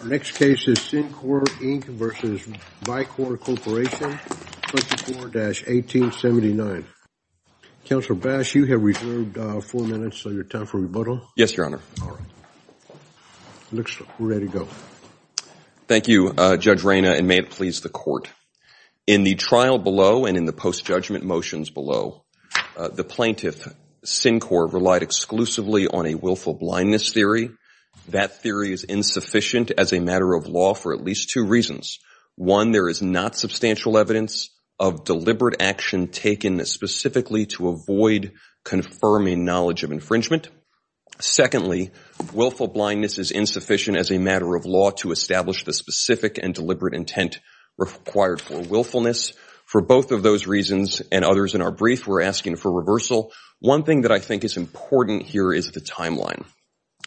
24-1879. Counselor Bass, you have reserved four minutes of your time for rebuttal. Yes, Your Honor. All right. Looks ready to go. Thank you, Judge Rayna, and may it please the Court. In the trial below and in the post-judgment motions below, the plaintiff, SynQor, relied exclusively on a willful blindness theory. That theory is insufficient as a matter of law for at least two reasons. One, there is not substantial evidence of deliberate action taken specifically to avoid confirming knowledge of infringement. Secondly, willful blindness is insufficient as a matter of law to establish the specific and deliberate intent required for willfulness. For both of those reasons and others in our brief, we're asking for reversal. One thing that I think is important here is the timeline.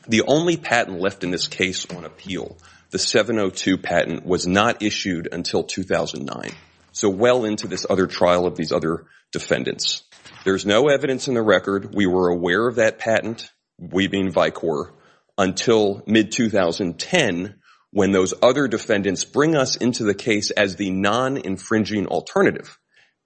The only patent left in this case on appeal, the 702 patent, was not issued until 2009, so well into this other trial of these other defendants. There's no evidence in the record. We were aware of that patent, we being Vicor, until mid-2010 when those other defendants bring us into the case as the non-infringing alternative.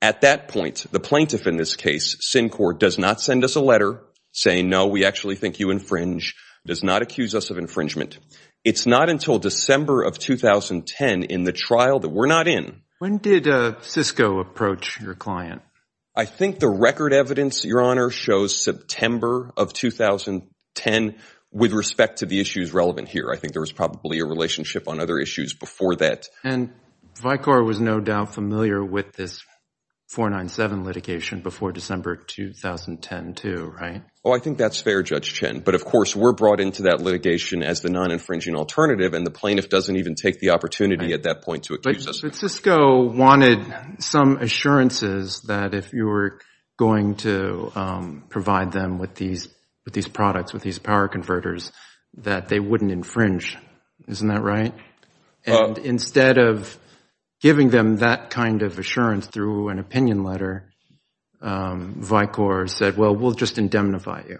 At that point, the plaintiff in this case, SynQor, does not send us a letter saying, no, we actually think you infringe, does not accuse us of infringement. It's not until December of 2010 in the trial that we're not in. When did Cisco approach your client? I think the record evidence, Your Honor, shows September of 2010 with respect to the issues relevant here. I think there was probably a relationship on other issues before that. And Vicor was no doubt familiar with this 497 litigation before December 2010 too, right? Oh, I think that's fair, Judge Chen. But, of course, we're brought into that litigation as the non-infringing alternative, and the plaintiff doesn't even take the opportunity at that point to accuse us. But Cisco wanted some assurances that if you were going to provide them with these products, with these power converters, that they wouldn't infringe. Isn't that right? And instead of giving them that kind of assurance through an opinion letter, Vicor said, well, we'll just indemnify you.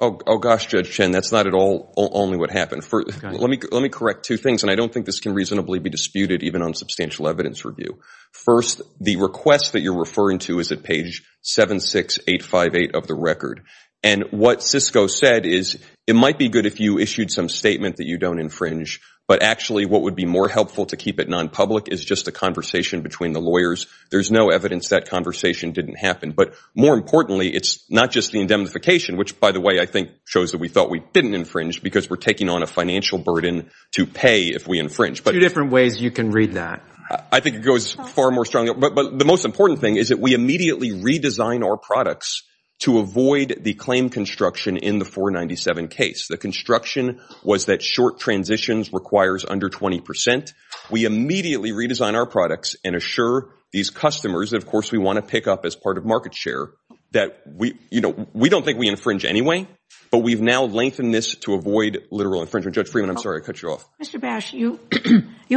Oh, gosh, Judge Chen, that's not at all only what happened. Let me correct two things, and I don't think this can reasonably be disputed even on substantial evidence review. First, the request that you're referring to is at page 76858 of the record. And what Cisco said is it might be good if you issued some statement that you don't infringe, but actually what would be more helpful to keep it non-public is just a conversation between the lawyers. There's no evidence that conversation didn't happen. But more importantly, it's not just the indemnification, which, by the way, I think shows that we thought we didn't infringe because we're taking on a financial burden to pay if we infringe. Two different ways you can read that. I think it goes far more strongly. But the most important thing is that we immediately redesign our products to avoid the claim construction in the 497 case. The construction was that short transitions requires under 20 percent. We immediately redesign our products and assure these customers that, of course, we want to pick up as part of market share that we don't think we infringe anyway, but we've now lengthened this to avoid literal infringement. Judge Freeman, I'm sorry, I cut you off. Mr. Bash, you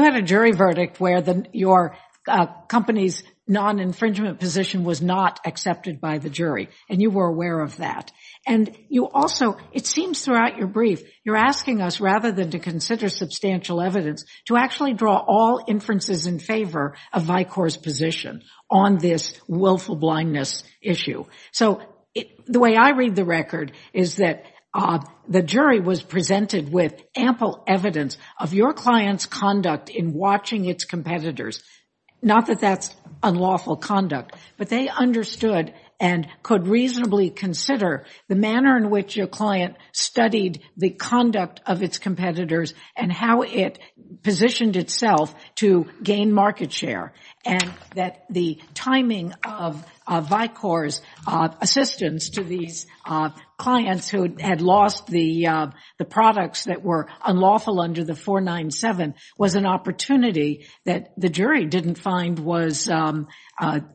had a jury verdict where your company's non-infringement position was not accepted by the jury, and you were aware of that. And you also, it seems throughout your brief, you're asking us, rather than to consider substantial evidence, to actually draw all inferences in favor of Vicor's position on this willful blindness issue. So the way I read the record is that the jury was presented with ample evidence of your client's conduct in watching its competitors, not that that's unlawful conduct, but they understood and could reasonably consider the manner in which your client studied the conduct of its competitors and how it positioned itself to gain market share, and that the timing of Vicor's assistance to these clients who had lost the products that were unlawful under the 497 was an opportunity that the jury didn't find was an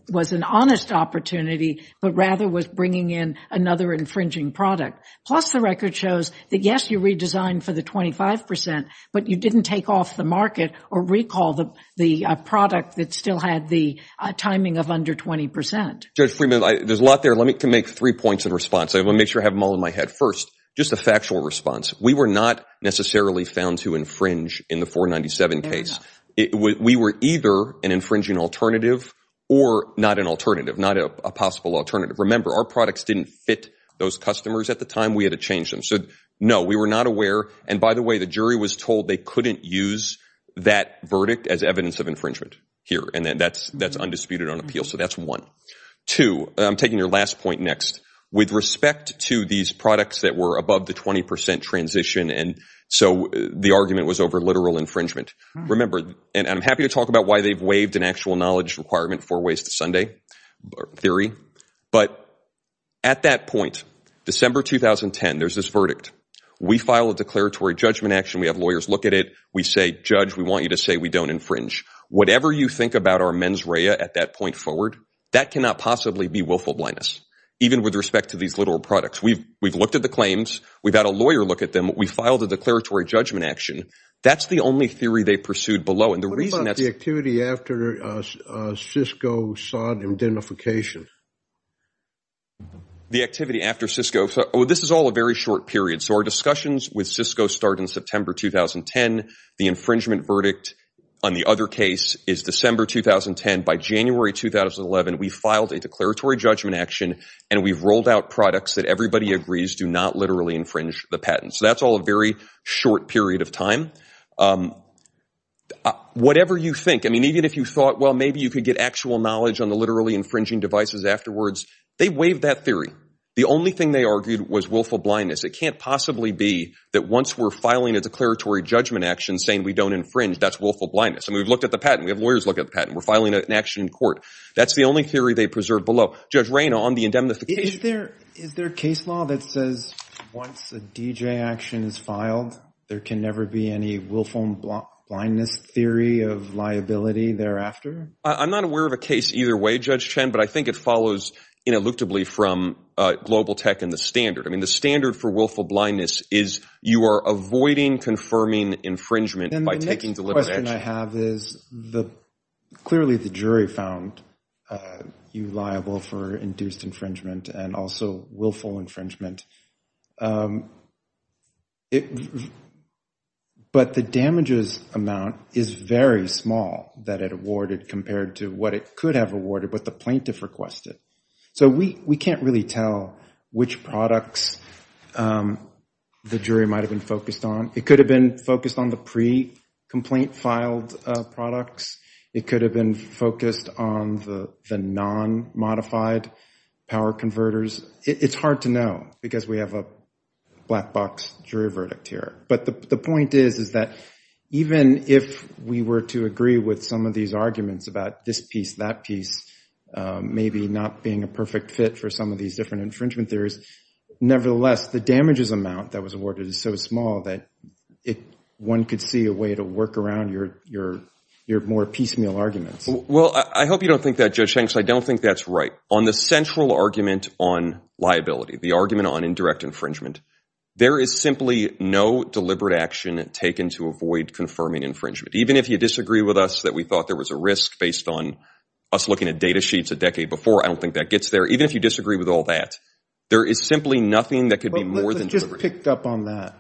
honest opportunity, but rather was bringing in another infringing product. Plus, the record shows that, yes, you redesigned for the 25%, but you didn't take off the market or recall the product that still had the timing of under 20%. Judge Freeman, there's a lot there. Let me make three points in response. I want to make sure I have them all in my head. First, just a factual response. We were not necessarily found to infringe in the 497 case. We were either an infringing alternative or not an alternative, not a possible alternative. Remember, our products didn't fit those customers at the time. We had to change them. So, no, we were not aware. And, by the way, the jury was told they couldn't use that verdict as evidence of infringement here, and that's undisputed on appeal. So that's one. Two, I'm taking your last point next. With respect to these products that were above the 20% transition, and so the argument was over literal infringement. Remember, and I'm happy to talk about why they've waived an actual knowledge requirement for Waste Sunday theory, but at that point, December 2010, there's this verdict. We file a declaratory judgment action. We have lawyers look at it. We say, Judge, we want you to say we don't infringe. Whatever you think about our mens rea at that point forward, that cannot possibly be willful blindness. Even with respect to these literal products. We've looked at the claims. We've had a lawyer look at them. We filed a declaratory judgment action. That's the only theory they pursued below. What about the activity after Cisco sought identification? The activity after Cisco? Oh, this is all a very short period. So our discussions with Cisco start in September 2010. The infringement verdict on the other case is December 2010. By January 2011, we filed a declaratory judgment action, and we've rolled out products that everybody agrees do not literally infringe the patent. So that's all a very short period of time. Whatever you think, I mean, even if you thought, well, maybe you could get actual knowledge on the literally infringing devices afterwards, they waived that theory. The only thing they argued was willful blindness. It can't possibly be that once we're filing a declaratory judgment action saying we don't infringe, that's willful blindness. I mean, we've looked at the patent. We have lawyers look at the patent. We're filing an action in court. That's the only theory they preserved below. Judge Rayna, on the indemnification. Is there a case law that says once a DJ action is filed, there can never be any willful blindness theory of liability thereafter? I'm not aware of a case either way, Judge Chen, but I think it follows ineluctably from global tech and the standard. I mean, the standard for willful blindness is you are avoiding confirming infringement by taking deliberate action. The question I have is clearly the jury found you liable for induced infringement and also willful infringement. But the damages amount is very small that it awarded compared to what it could have awarded, what the plaintiff requested. So we can't really tell which products the jury might have been focused on. It could have been focused on the pre-complaint filed products. It could have been focused on the non-modified power converters. It's hard to know because we have a black box jury verdict here. But the point is, is that even if we were to agree with some of these arguments about this piece, that piece, maybe not being a perfect fit for some of these different infringement theories, nevertheless, the damages amount that was awarded is so small that one could see a way to work around your more piecemeal arguments. Well, I hope you don't think that, Judge Hanks. I don't think that's right. On the central argument on liability, the argument on indirect infringement, there is simply no deliberate action taken to avoid confirming infringement. Even if you disagree with us that we thought there was a risk based on us looking at data sheets a decade before, I don't think that gets there. Even if you disagree with all that, there is simply nothing that could be more than deliberate. Let's just pick up on that.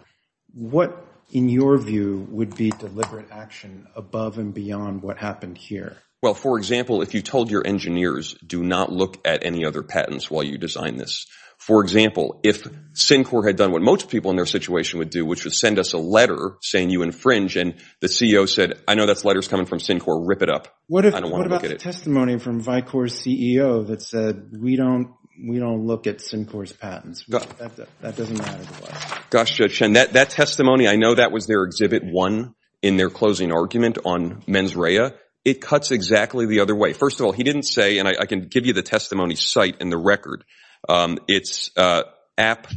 What, in your view, would be deliberate action above and beyond what happened here? Well, for example, if you told your engineers, do not look at any other patents while you design this. For example, if Syncor had done what most people in their situation would do, which was send us a letter saying you infringe, and the CEO said, I know that letter is coming from Syncor. Rip it up. What about the testimony from Vicor's CEO that said we don't look at Syncor's patents? That doesn't matter to us. Gosh, Judge Shen, that testimony, I know that was their Exhibit 1 in their closing argument on mens rea. It cuts exactly the other way. First of all, he didn't say, and I can give you the testimony's site in the record. It's app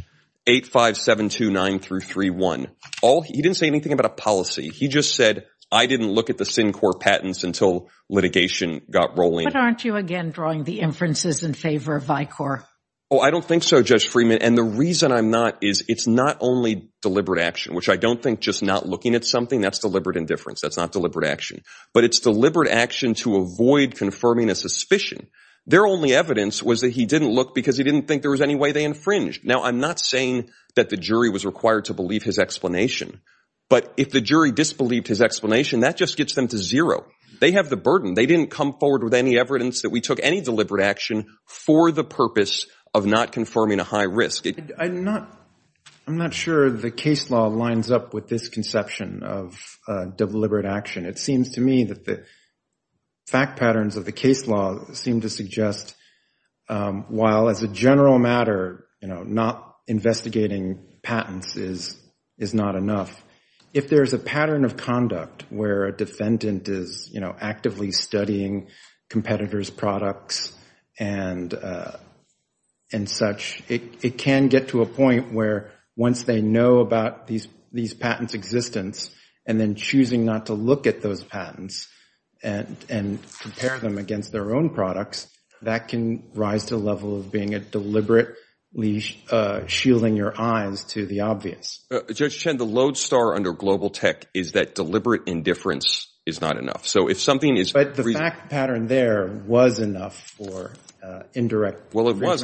85729331. He didn't say anything about a policy. He just said, I didn't look at the Syncor patents until litigation got rolling. But aren't you again drawing the inferences in favor of Vicor? Oh, I don't think so, Judge Freeman. And the reason I'm not is it's not only deliberate action, which I don't think just not looking at something, that's deliberate indifference. That's not deliberate action. But it's deliberate action to avoid confirming a suspicion. Their only evidence was that he didn't look because he didn't think there was any way they infringed. Now, I'm not saying that the jury was required to believe his explanation. But if the jury disbelieved his explanation, that just gets them to zero. They have the burden. They didn't come forward with any evidence that we took any deliberate action for the purpose of not confirming a high risk. I'm not sure the case law lines up with this conception of deliberate action. It seems to me that the fact patterns of the case law seem to suggest, while as a general matter, not investigating patents is not enough, if there is a pattern of conduct where a defendant is actively studying competitors' products and such, it can get to a point where once they know about these patents' existence and then choosing not to look at those patents and compare them against their own products, that can rise to a level of being a deliberate shielding your eyes to the obvious. Judge Chen, the lodestar under global tech is that deliberate indifference is not enough. But the fact pattern there was enough for indirect agreement liability. Well, it was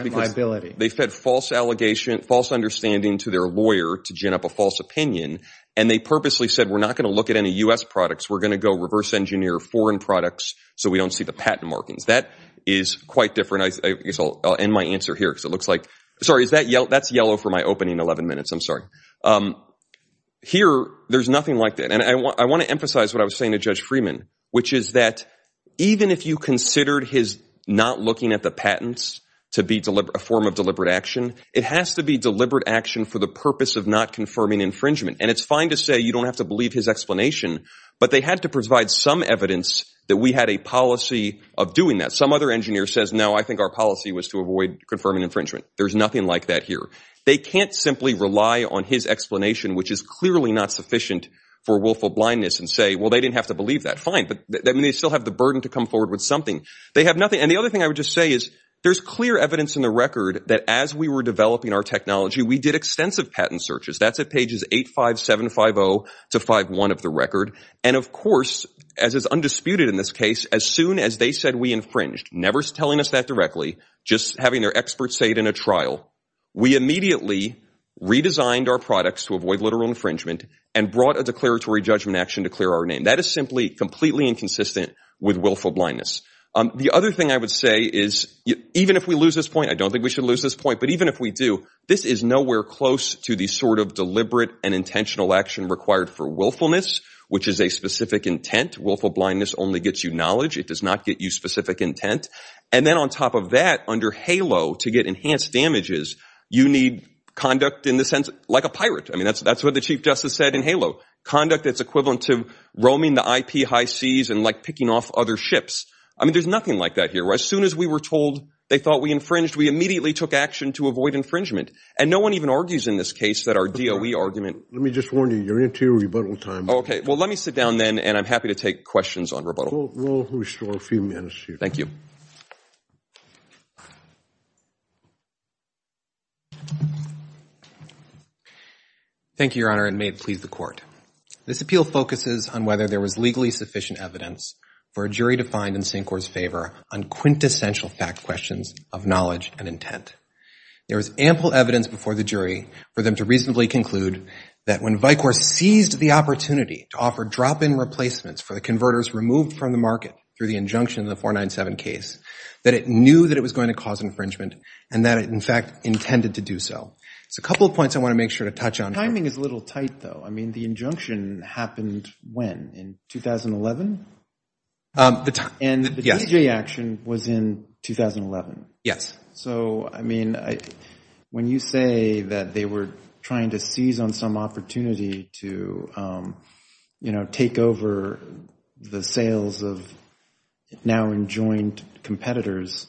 because they fed false allegation, false understanding to their lawyer to gin up a false opinion, and they purposely said we're not going to look at any U.S. products. We're going to go reverse engineer foreign products so we don't see the patent markings. That is quite different. I guess I'll end my answer here because it looks like – sorry, that's yellow for my opening 11 minutes. I'm sorry. Here there's nothing like that. And I want to emphasize what I was saying to Judge Freeman, which is that even if you considered his not looking at the patents to be a form of deliberate action, it has to be deliberate action for the purpose of not confirming infringement. And it's fine to say you don't have to believe his explanation, but they had to provide some evidence that we had a policy of doing that. Some other engineer says, no, I think our policy was to avoid confirming infringement. There's nothing like that here. They can't simply rely on his explanation, which is clearly not sufficient for willful blindness, and say, well, they didn't have to believe that. Fine, but they still have the burden to come forward with something. They have nothing – and the other thing I would just say is there's clear evidence in the record that as we were developing our technology, we did extensive patent searches. That's at pages 8-5-7-5-0 to 5-1 of the record. And of course, as is undisputed in this case, as soon as they said we infringed, never telling us that directly, just having their experts say it in a trial, we immediately redesigned our products to avoid literal infringement and brought a declaratory judgment action to clear our name. That is simply completely inconsistent with willful blindness. The other thing I would say is even if we lose this point, I don't think we should lose this point, but even if we do, this is nowhere close to the sort of deliberate and intentional action required for willfulness, which is a specific intent. Willful blindness only gets you knowledge. It does not get you specific intent. And then on top of that, under HALO, to get enhanced damages, you need conduct in the sense – like a pirate. I mean, that's what the Chief Justice said in HALO, conduct that's equivalent to roaming the IP high seas and, like, picking off other ships. I mean, there's nothing like that here. As soon as we were told they thought we infringed, we immediately took action to avoid infringement. And no one even argues in this case that our DOE argument – Let me just warn you, you're into your rebuttal time. Okay, well, let me sit down then, and I'm happy to take questions on rebuttal. We'll restore a few minutes here. Thank you. Thank you, Your Honor, and may it please the Court. This appeal focuses on whether there was legally sufficient evidence for a jury to find in Syncor's favor on quintessential fact questions of knowledge and intent. There was ample evidence before the jury for them to reasonably conclude that when Vicor seized the opportunity to offer drop-in replacements for the converters removed from the market through the injunction in the 497 case, that it knew that it was going to cause infringement and that it, in fact, intended to do so. So a couple of points I want to make sure to touch on. The timing is a little tight, though. I mean, the injunction happened when, in 2011? Yes. And the DJ action was in 2011? Yes. So, I mean, when you say that they were trying to seize on some opportunity to, you know, take over the sales of now enjoined competitors,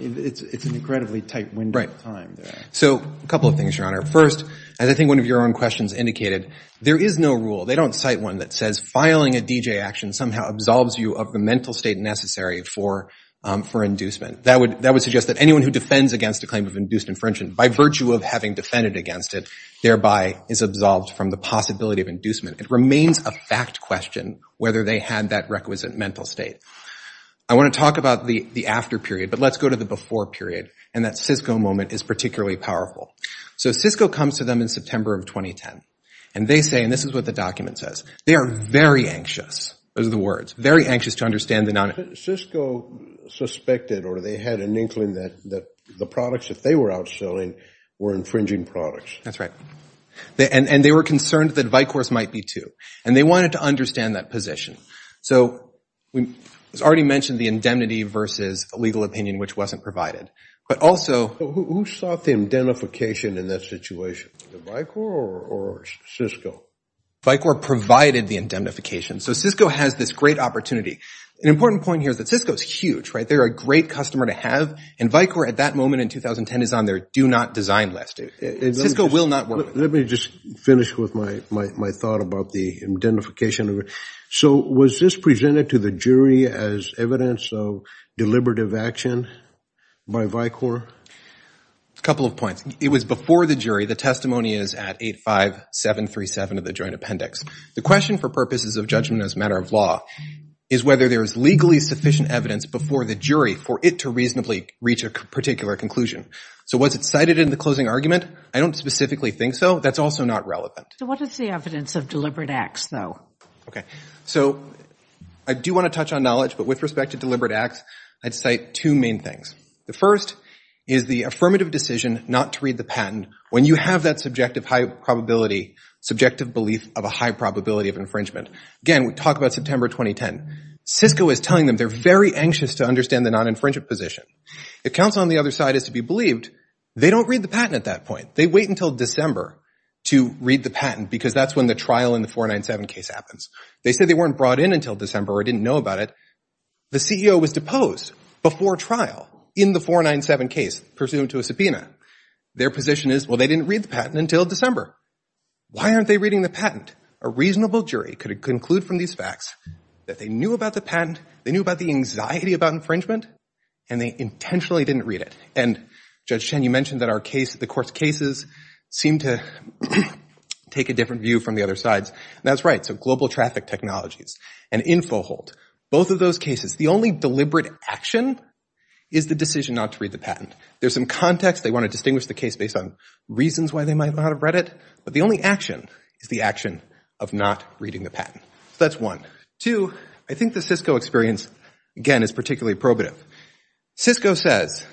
it's an incredibly tight window of time there. So a couple of things, Your Honor. First, as I think one of your own questions indicated, there is no rule, they don't cite one that says filing a DJ action somehow absolves you of the mental state necessary for inducement. That would suggest that anyone who defends against a claim of induced infringement by virtue of having defended against it, thereby is absolved from the possibility of inducement. It remains a fact question whether they had that requisite mental state. I want to talk about the after period, but let's go to the before period, and that Cisco moment is particularly powerful. So Cisco comes to them in September of 2010, and they say, and this is what the document says, they are very anxious, those are the words, very anxious to understand the non- Cisco suspected or they had an inkling that the products that they were outselling were infringing products. That's right. And they were concerned that Vicor's might be too, and they wanted to understand that position. So we already mentioned the indemnity versus legal opinion, which wasn't provided. Who sought the indemnification in that situation, the Vicor or Cisco? Vicor provided the indemnification. So Cisco has this great opportunity. An important point here is that Cisco is huge, right? They're a great customer to have, and Vicor at that moment in 2010 is on their do not design list. Cisco will not work. Let me just finish with my thought about the indemnification. So was this presented to the jury as evidence of deliberative action by Vicor? A couple of points. It was before the jury. The testimony is at 85737 of the joint appendix. The question for purposes of judgment as a matter of law is whether there is legally sufficient evidence before the jury for it to reasonably reach a particular conclusion. So was it cited in the closing argument? I don't specifically think so. That's also not relevant. So what is the evidence of deliberate acts, though? Okay. So I do want to touch on knowledge, but with respect to deliberate acts, I'd cite two main things. The first is the affirmative decision not to read the patent when you have that subjective belief of a high probability of infringement. Again, we talk about September 2010. Cisco is telling them they're very anxious to understand the non-infringement position. If counsel on the other side is to be believed, they don't read the patent at that point. They wait until December to read the patent because that's when the trial in the 497 case happens. They say they weren't brought in until December or didn't know about it. The CEO was deposed before trial in the 497 case, pursuant to a subpoena. Their position is, well, they didn't read the patent until December. Why aren't they reading the patent? A reasonable jury could conclude from these facts that they knew about the patent, they knew about the anxiety about infringement, and they intentionally didn't read it. And, Judge Chen, you mentioned that the court's cases seem to take a different view from the other side. That's right. So global traffic technologies and InfoHolt, both of those cases, the only deliberate action is the decision not to read the patent. There's some context. They want to distinguish the case based on reasons why they might not have read it. But the only action is the action of not reading the patent. So that's one. Two, I think the Cisco experience, again, is particularly probative. Cisco says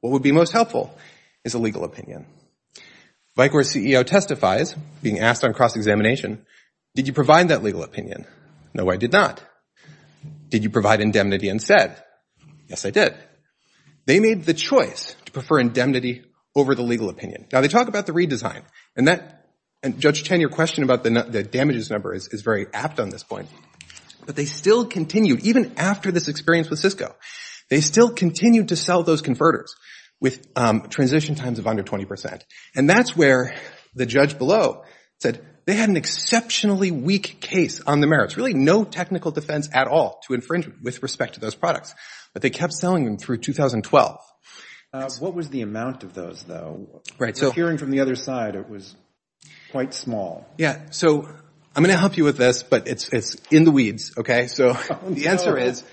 what would be most helpful is a legal opinion. Vicor's CEO testifies, being asked on cross-examination, did you provide that legal opinion? No, I did not. Did you provide indemnity instead? Yes, I did. They made the choice to prefer indemnity over the legal opinion. Now, they talk about the redesign. And, Judge Chen, your question about the damages number is very apt on this point. But they still continued, even after this experience with Cisco, they still continued to sell those converters with transition times of under 20 percent. And that's where the judge below said they had an exceptionally weak case on the merits, really no technical defense at all to infringement with respect to those products. But they kept selling them through 2012. What was the amount of those, though? Hearing from the other side, it was quite small. Yeah. So I'm going to help you with this, but it's in the weeds, okay? So the answer is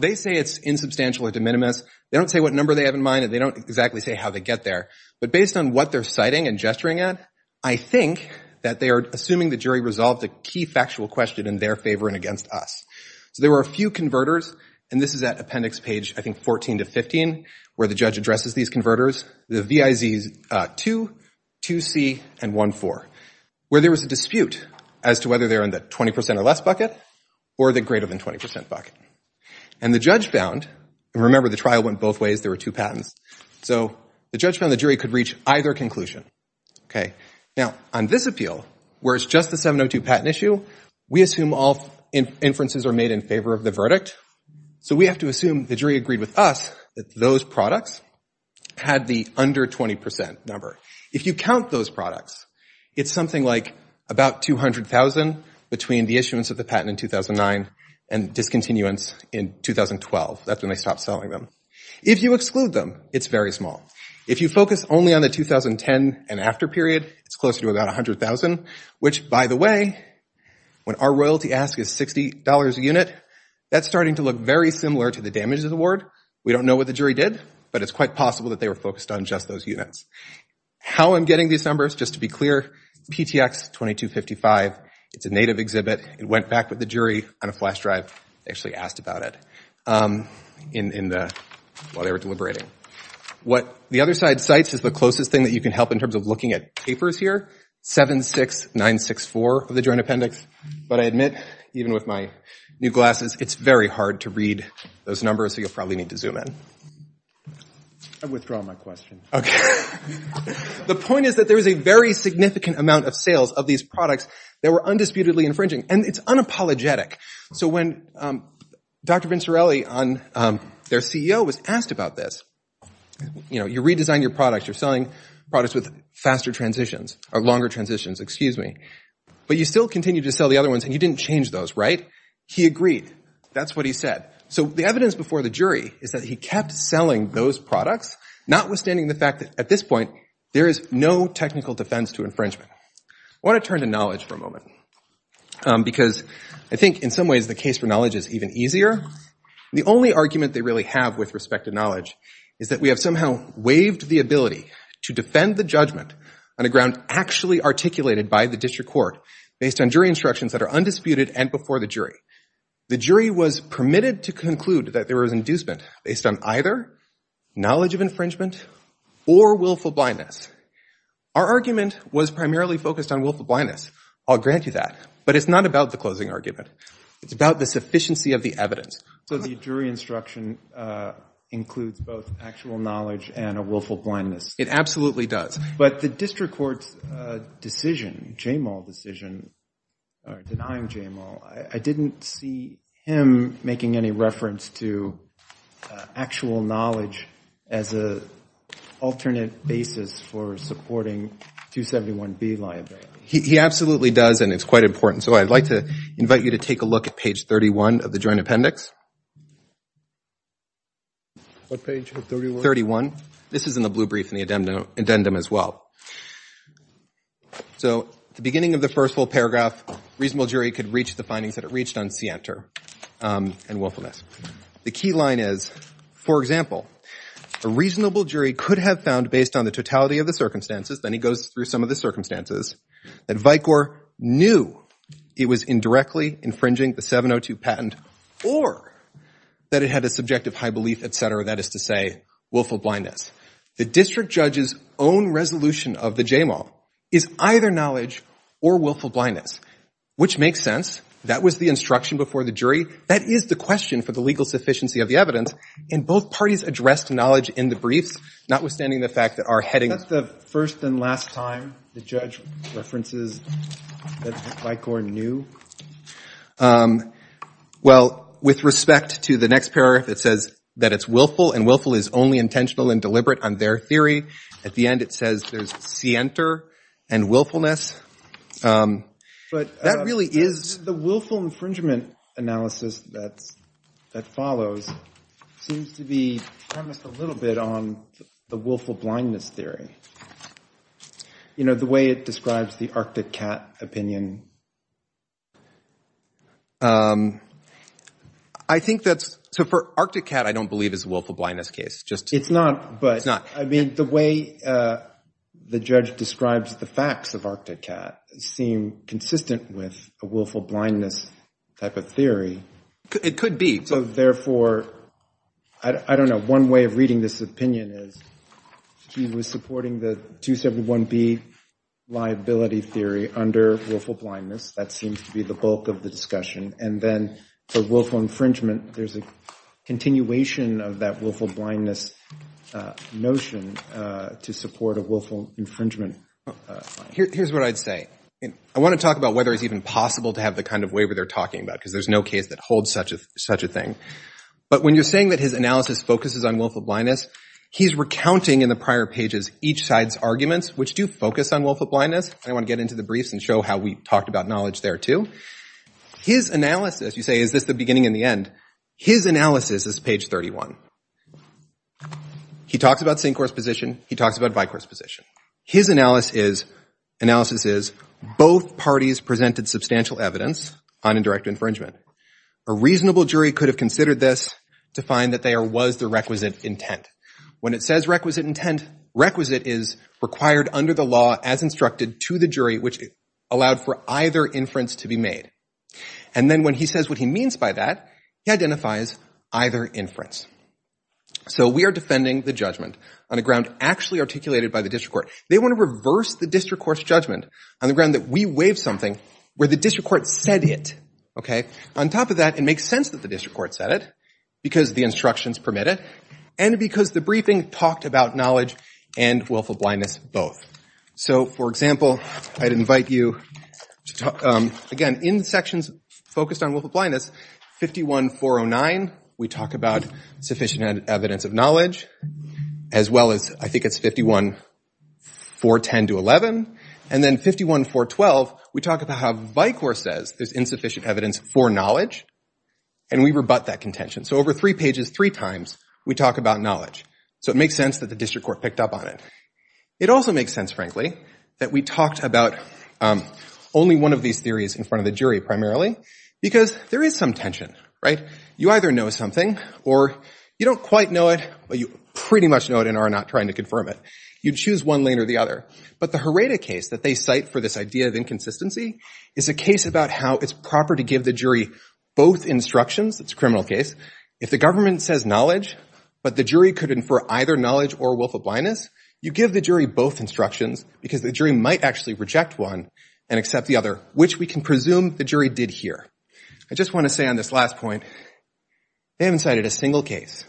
they say it's insubstantial or de minimis. They don't say what number they have in mind, and they don't exactly say how they get there. But based on what they're citing and gesturing at, I think that they are assuming the jury resolved a key factual question in their favor and against us. So there were a few converters, and this is at appendix page, I think, 14 to 15, where the judge addresses these converters, the VIZs 2, 2C, and 1,4, where there was a dispute as to whether they were in the 20 percent or less bucket or the greater than 20 percent bucket. And the judge found, and remember the trial went both ways, there were two patents. So the judge found the jury could reach either conclusion, okay? Now, on this appeal, where it's just the 702 patent issue, we assume all inferences are made in favor of the verdict. So we have to assume the jury agreed with us that those products had the under 20 percent number. If you count those products, it's something like about 200,000 between the issuance of the patent in 2009 and discontinuance in 2012. That's when they stopped selling them. If you exclude them, it's very small. If you focus only on the 2010 and after period, it's closer to about 100,000, which, by the way, when our royalty ask is $60 a unit, that's starting to look very similar to the damages award. We don't know what the jury did, but it's quite possible that they were focused on just those units. How I'm getting these numbers, just to be clear, PTX 2255, it's a native exhibit. It went back with the jury on a flash drive. They actually asked about it while they were deliberating. What the other side cites is the closest thing that you can help in terms of looking at papers here, 76964 of the Joint Appendix. But I admit, even with my new glasses, it's very hard to read those numbers, so you'll probably need to zoom in. I withdraw my question. Okay. The point is that there is a very significant amount of sales of these products that were undisputedly infringing, and it's unapologetic. So when Dr. Vincerelli, their CEO, was asked about this, you know, products with faster transitions or longer transitions, excuse me, but you still continue to sell the other ones and you didn't change those, right? He agreed. That's what he said. So the evidence before the jury is that he kept selling those products, notwithstanding the fact that, at this point, there is no technical defense to infringement. I want to turn to knowledge for a moment because I think, in some ways, the case for knowledge is even easier. The only argument they really have with respect to knowledge is that we have somehow waived the ability to defend the judgment on a ground actually articulated by the district court based on jury instructions that are undisputed and before the jury. The jury was permitted to conclude that there was inducement based on either knowledge of infringement or willful blindness. Our argument was primarily focused on willful blindness. I'll grant you that. But it's not about the closing argument. It's about the sufficiency of the evidence. So the jury instruction includes both actual knowledge and a willful blindness. It absolutely does. But the district court's decision, Jamal's decision, denying Jamal, I didn't see him making any reference to actual knowledge as an alternate basis for supporting 271B liability. He absolutely does, and it's quite important. So I'd like to invite you to take a look at page 31 of the joint appendix. What page? 31? 31. This is in the blue brief and the addendum as well. So at the beginning of the first full paragraph, reasonable jury could reach the findings that it reached on Sienter and willfulness. The key line is, for example, a reasonable jury could have found based on the totality of the circumstances, then he goes through some of the circumstances, that Vicor knew it was indirectly infringing the 702 patent or that it had a subjective high belief, et cetera, that is to say, willful blindness. The district judge's own resolution of the Jamal is either knowledge or willful blindness, which makes sense. That was the instruction before the jury. That is the question for the legal sufficiency of the evidence, and both parties addressed knowledge in the briefs, notwithstanding the fact that our heading Isn't that the first and last time the judge references that Vicor knew? Well, with respect to the next paragraph, it says that it's willful, and willful is only intentional and deliberate on their theory. At the end it says there's Sienter and willfulness. But that really is The willful infringement analysis that follows seems to be premised a little bit on the willful blindness theory. You know, the way it describes the Arctic Cat opinion. I think that's So for Arctic Cat, I don't believe it's a willful blindness case. It's not, but I mean the way the judge describes the facts of Arctic Cat seem consistent with a willful blindness type of theory. It could be. So therefore, I don't know, one way of reading this opinion is he was supporting the 271B liability theory under willful blindness. That seems to be the bulk of the discussion. And then for willful infringement, there's a continuation of that willful blindness notion to support a willful infringement. Here's what I'd say. I want to talk about whether it's even possible to have the kind of waiver they're talking about because there's no case that holds such a thing. But when you're saying that his analysis focuses on willful blindness, he's recounting in the prior pages each side's arguments, which do focus on willful blindness. I want to get into the briefs and show how we talked about knowledge there, too. His analysis, you say, is this the beginning and the end? His analysis is page 31. He talks about sinkhorse position. He talks about vicorse position. His analysis is both parties presented substantial evidence on indirect infringement. A reasonable jury could have considered this to find that there was the requisite intent. When it says requisite intent, requisite is required under the law as instructed to the jury, which allowed for either inference to be made. And then when he says what he means by that, he identifies either inference. So we are defending the judgment on a ground actually articulated by the district court. They want to reverse the district court's judgment on the ground that we waived something where the district court said it. On top of that, it makes sense that the district court said it because the instructions permit it and because the briefing talked about knowledge and willful blindness both. So, for example, I'd invite you to talk, again, in the sections focused on willful blindness, 51-409, we talk about sufficient evidence of knowledge as well as, I think it's 51-410-11, and then 51-412, we talk about how vicorse says there's insufficient evidence for knowledge and we rebut that contention. So over three pages, three times, we talk about knowledge. So it makes sense that the district court picked up on it. It also makes sense, frankly, that we talked about only one of these theories in front of the jury primarily because there is some tension, right? You either know something or you don't quite know it, but you pretty much know it and are not trying to confirm it. You choose one lane or the other. But the Herrada case that they cite for this idea of inconsistency is a case about how it's proper to give the jury both instructions. It's a criminal case. If the government says knowledge but the jury could infer either knowledge or willful blindness, you give the jury both instructions because the jury might actually reject one and accept the other, which we can presume the jury did here. I just want to say on this last point, they haven't cited a single case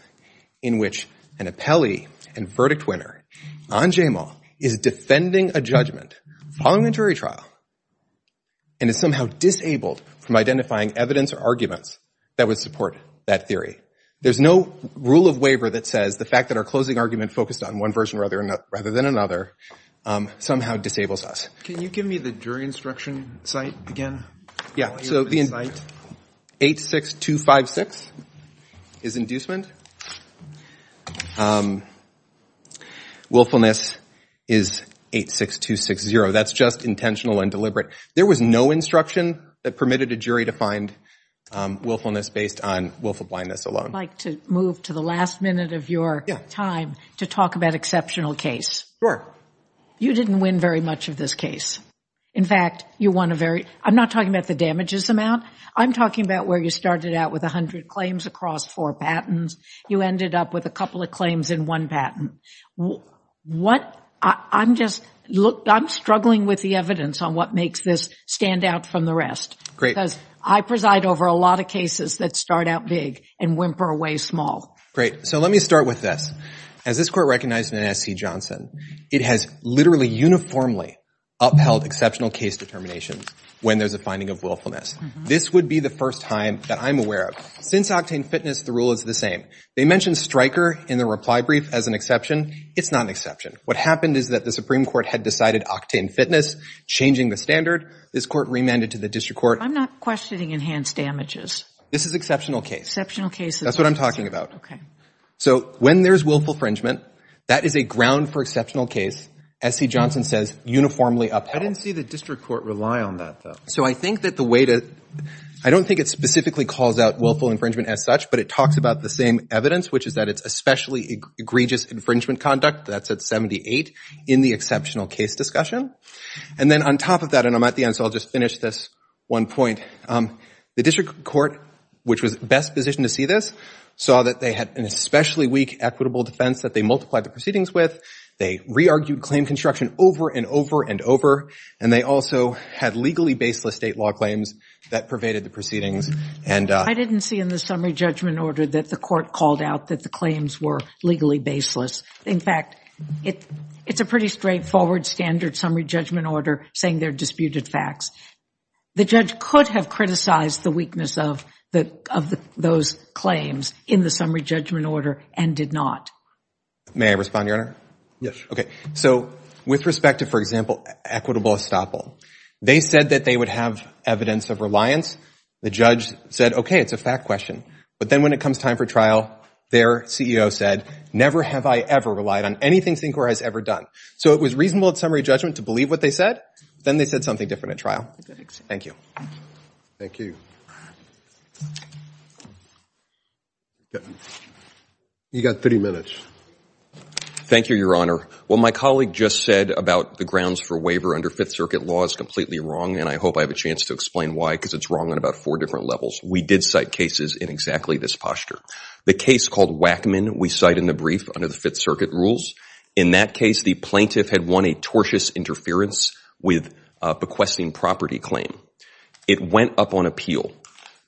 in which an appellee and verdict winner on JMAW is defending a judgment following a jury trial and is somehow disabled from identifying evidence or arguments that would support that theory. There's no rule of waiver that says the fact that our closing argument focused on one version rather than another somehow disables us. Can you give me the jury instruction site again? Yeah. So the 8-6-2-5-6 is inducement. Willfulness is 8-6-2-6-0. That's just intentional and deliberate. There was no instruction that permitted a jury to find willfulness based on willful blindness alone. I'd like to move to the last minute of your time to talk about exceptional case. Sure. You didn't win very much of this case. In fact, you won a very – I'm not talking about the damages amount. I'm talking about where you started out with 100 claims across four patents. You ended up with a couple of claims in one patent. What – I'm just – I'm struggling with the evidence on what makes this stand out from the rest. Great. Because I preside over a lot of cases that start out big and whimper away small. Great. So let me start with this. As this court recognized in S.C. Johnson, it has literally uniformly upheld exceptional case determinations when there's a finding of willfulness. This would be the first time that I'm aware of. Since octane fitness, the rule is the same. They mentioned striker in the reply brief as an exception. It's not an exception. What happened is that the Supreme Court had decided octane fitness, changing the standard. This court remanded to the district court. I'm not questioning enhanced damages. This is exceptional case. Exceptional case. That's what I'm talking about. Okay. So when there's willful infringement, that is a ground for exceptional case. S.C. Johnson says uniformly upheld. I didn't see the district court rely on that, though. So I think that the way to – I don't think it specifically calls out willful infringement as such, but it talks about the same evidence, which is that it's especially egregious infringement conduct. That's at 78 in the exceptional case discussion. And then on top of that – and I'm at the end, so I'll just finish this one point. The district court, which was best positioned to see this, saw that they had an especially weak equitable defense that they multiplied the proceedings with. They re-argued claim construction over and over and over, and they also had legally baseless state law claims that pervaded the proceedings. I didn't see in the summary judgment order that the court called out that the claims were legally baseless. In fact, it's a pretty straightforward standard summary judgment order saying they're disputed facts. The judge could have criticized the weakness of those claims in the summary judgment order and did not. May I respond, Your Honor? Yes. Okay. So with respect to, for example, equitable estoppel, they said that they would have evidence of reliance. The judge said, okay, it's a fact question. But then when it comes time for trial, their CEO said, never have I ever relied on anything Syncor has ever done. So it was reasonable in summary judgment to believe what they said. Then they said something different at trial. Thank you. Thank you. You've got 30 minutes. Thank you, Your Honor. What my colleague just said about the grounds for waiver under Fifth Circuit law is completely wrong, and I hope I have a chance to explain why because it's wrong on about four different levels. We did cite cases in exactly this posture. The case called Wackman we cite in the brief under the Fifth Circuit rules. In that case, the plaintiff had won a tortious interference with bequesting property claim. It went up on appeal.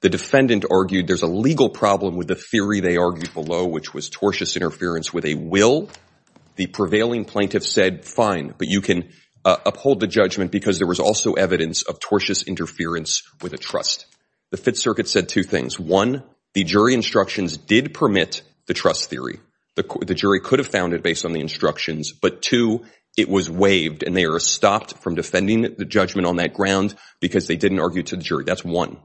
The defendant argued there's a legal problem with the theory they argued below, which was tortious interference with a will. The prevailing plaintiff said, fine, but you can uphold the judgment because there was also evidence of tortious interference with a trust. The Fifth Circuit said two things. One, the jury instructions did permit the trust theory. The jury could have found it based on the instructions, but two, it was waived and they were stopped from defending the judgment on that ground because they didn't argue to the jury. That's one.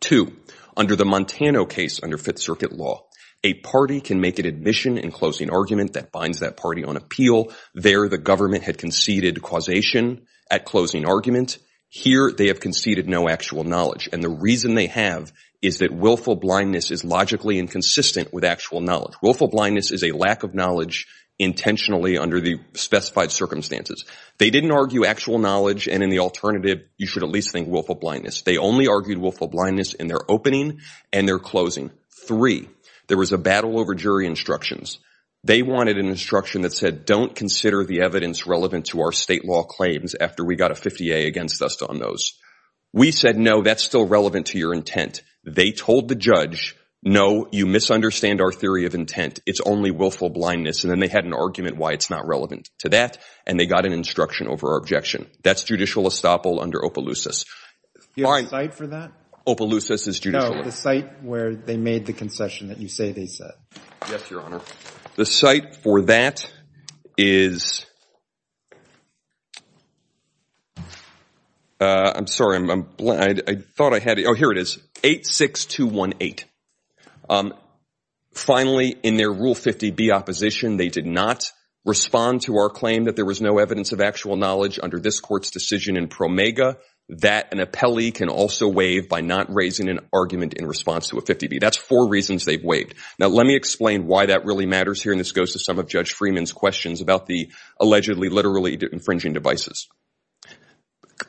Two, under the Montana case under Fifth Circuit law, a party can make an admission in closing argument that binds that party on appeal. There, the government had conceded causation at closing argument. Here, they have conceded no actual knowledge, and the reason they have is that willful blindness is logically inconsistent with actual knowledge. Willful blindness is a lack of knowledge intentionally under the specified circumstances. They didn't argue actual knowledge, and in the alternative, you should at least think willful blindness. They only argued willful blindness in their opening and their closing. Three, there was a battle over jury instructions. They wanted an instruction that said, don't consider the evidence relevant to our state law claims after we got a 50A against us on those. We said, no, that's still relevant to your intent. They told the judge, no, you misunderstand our theory of intent. It's only willful blindness, and then they had an argument why it's not relevant to that, and they got an instruction over our objection. That's judicial estoppel under Opelousas. Do you have a site for that? Opelousas is judicial estoppel. No, the site where they made the concession that you say they said. Yes, Your Honor. The site for that is – I'm sorry. I thought I had it. Oh, here it is, 86218. Finally, in their Rule 50B opposition, they did not respond to our claim that there was no evidence of actual knowledge under this court's decision in Promega that an appellee can also waive by not raising an argument in response to a 50B. That's four reasons they've waived. Now, let me explain why that really matters here, and this goes to some of Judge Freeman's questions about the allegedly literally infringing devices.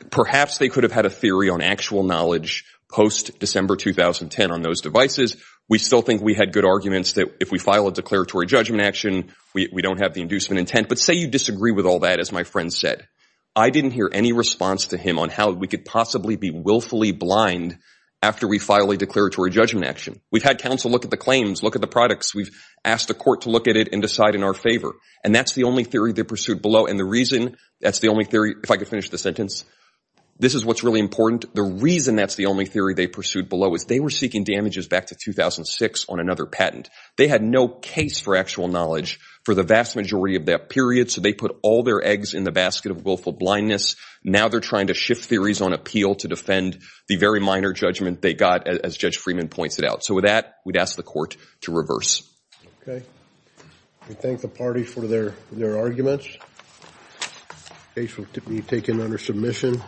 Perhaps they could have had a theory on actual knowledge post-December 2010 on those devices. We still think we had good arguments that if we file a declaratory judgment action, we don't have the inducement intent. But say you disagree with all that, as my friend said. I didn't hear any response to him on how we could possibly be willfully blind after we file a declaratory judgment action. We've had counsel look at the claims, look at the products. We've asked the court to look at it and decide in our favor, and that's the only theory they pursued below, and the reason that's the only theory, if I could finish the sentence. This is what's really important. The reason that's the only theory they pursued below is they were seeking damages back to 2006 on another patent. They had no case for actual knowledge for the vast majority of that period, so they put all their eggs in the basket of willful blindness. Now they're trying to shift theories on appeal to defend the very minor judgment they got, as Judge Freeman points it out. So with that, we'd ask the court to reverse. Okay. We thank the party for their arguments. The case will be taken under submission.